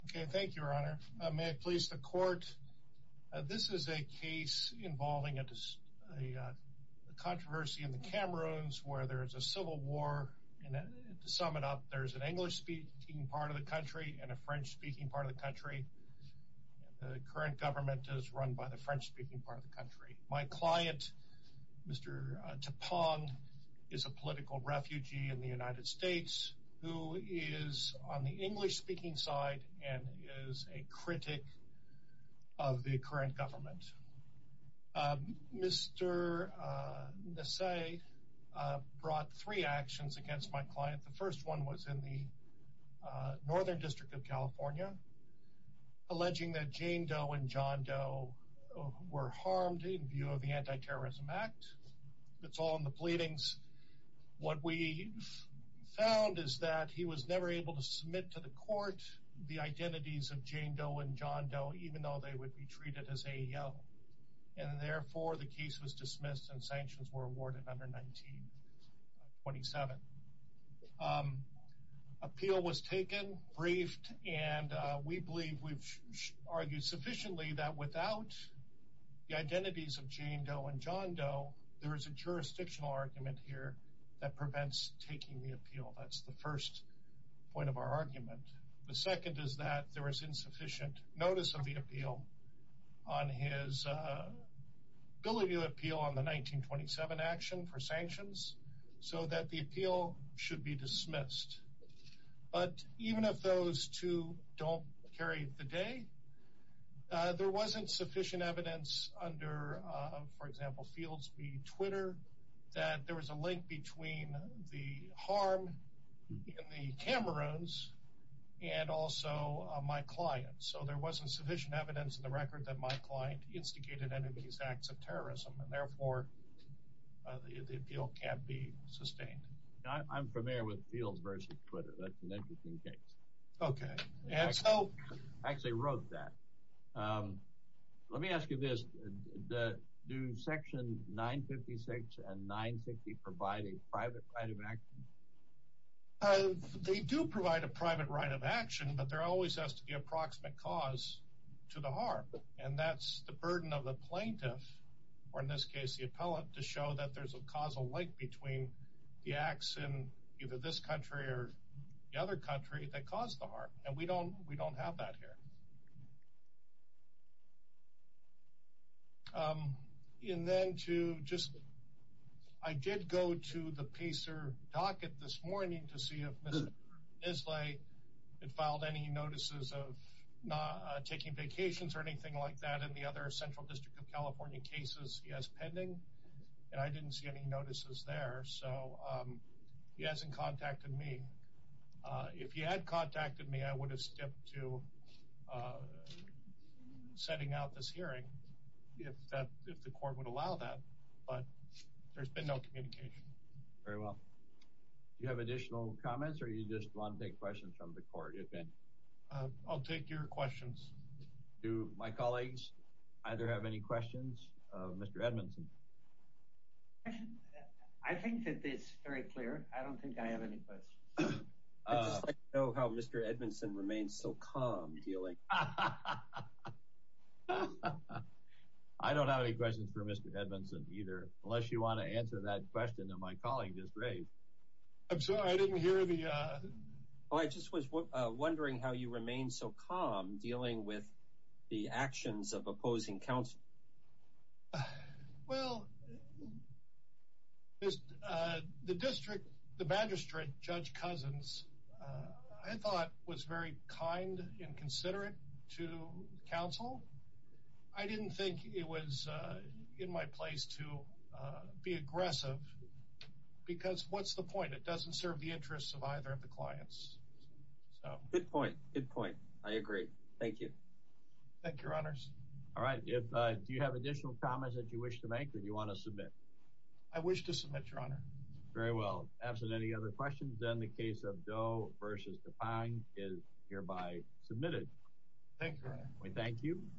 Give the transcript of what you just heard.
Okay, thank you, Your Honor. May it please the court. This is a case involving a controversy in the Cameroons where there is a civil war, and to sum it up, there's an English-speaking part of the country and a French-speaking part of the country. The current government is run by the French-speaking part of the country. My client, Mr. Tapang, is a political refugee in the United States who is on the English-speaking side and is a critic of the current government. Mr. Nassay brought three actions against my client. The first one was in the Northern District of California, alleging that Jane Doe and John Doe were harmed in view of the Anti-Terrorism Act. It's all in the pleadings. What we found is that he was never able to submit to the court the identities of Jane Doe and John Doe, even though they would be treated as AEO, and therefore the case was dismissed and sanctions were awarded under 1927. Appeal was taken, briefed, and we believe we've argued sufficiently that without the identities of Jane Doe and John Doe, there is a jurisdictional argument here that prevents taking the appeal. That's the first point of our argument. The second is that there was insufficient notice of the appeal on his bill review appeal on the 1927 action for sanctions, so that the appeal should be dismissed. But even if those two don't carry the day, there wasn't sufficient evidence under, for example, Fields v. Twitter, that there was a link between the harm in the Cameroons and also my client. So there wasn't sufficient evidence in the record that my client instigated any of these acts of terrorism, and therefore the appeal can't be sustained. I'm familiar with Fields v. Twitter. That's an interesting case. I actually wrote that. Let me ask you this. Do Section 956 and 960 provide a private right of action? They do provide a private right of action, but there always has to be a proximate cause to the harm, and that's the burden of the plaintiff, or in this case the appellate, to show that there's a causal link between the acts in either this country or the other country that caused the harm, and we don't have that here. I did go to the PACER docket this morning to see if Mr. Islay had filed any notices of not taking vacations or anything like that in the other Central District of California cases. He has pending, and I didn't see any notices there, so he hasn't contacted me. If he had contacted me, I would have stepped to sending out this hearing if the court would allow that, but there's been no communication. Very well. Do you have additional comments, or do you just want to take questions from the court? I'll take your questions. Do my colleagues either have any questions? Mr. Edmondson? I think that it's very clear. I don't think I have any questions. I'd just like to know how Mr. Edmondson remains so calm dealing... I don't have any questions for Mr. Edmondson either, unless you want to answer that question that my colleague just raised. I'm sorry, I didn't hear the... Oh, I just was wondering how you remain so calm dealing with the actions of opposing counsel. Well, the magistrate, Judge Cousins, I thought was very kind and considerate to counsel. I didn't think it was in my place to be aggressive, because what's the point? It doesn't serve the interests of either of the clients. Good point. Good point. I agree. Thank you. Thank you, Your Honors. All right. Do you have additional comments that you wish to make, or do you want to submit? I wish to submit, Your Honor. Very well. Absent any other questions, then the case of Doe v. Dupin is hereby submitted. Thank you, Your Honor. We thank you.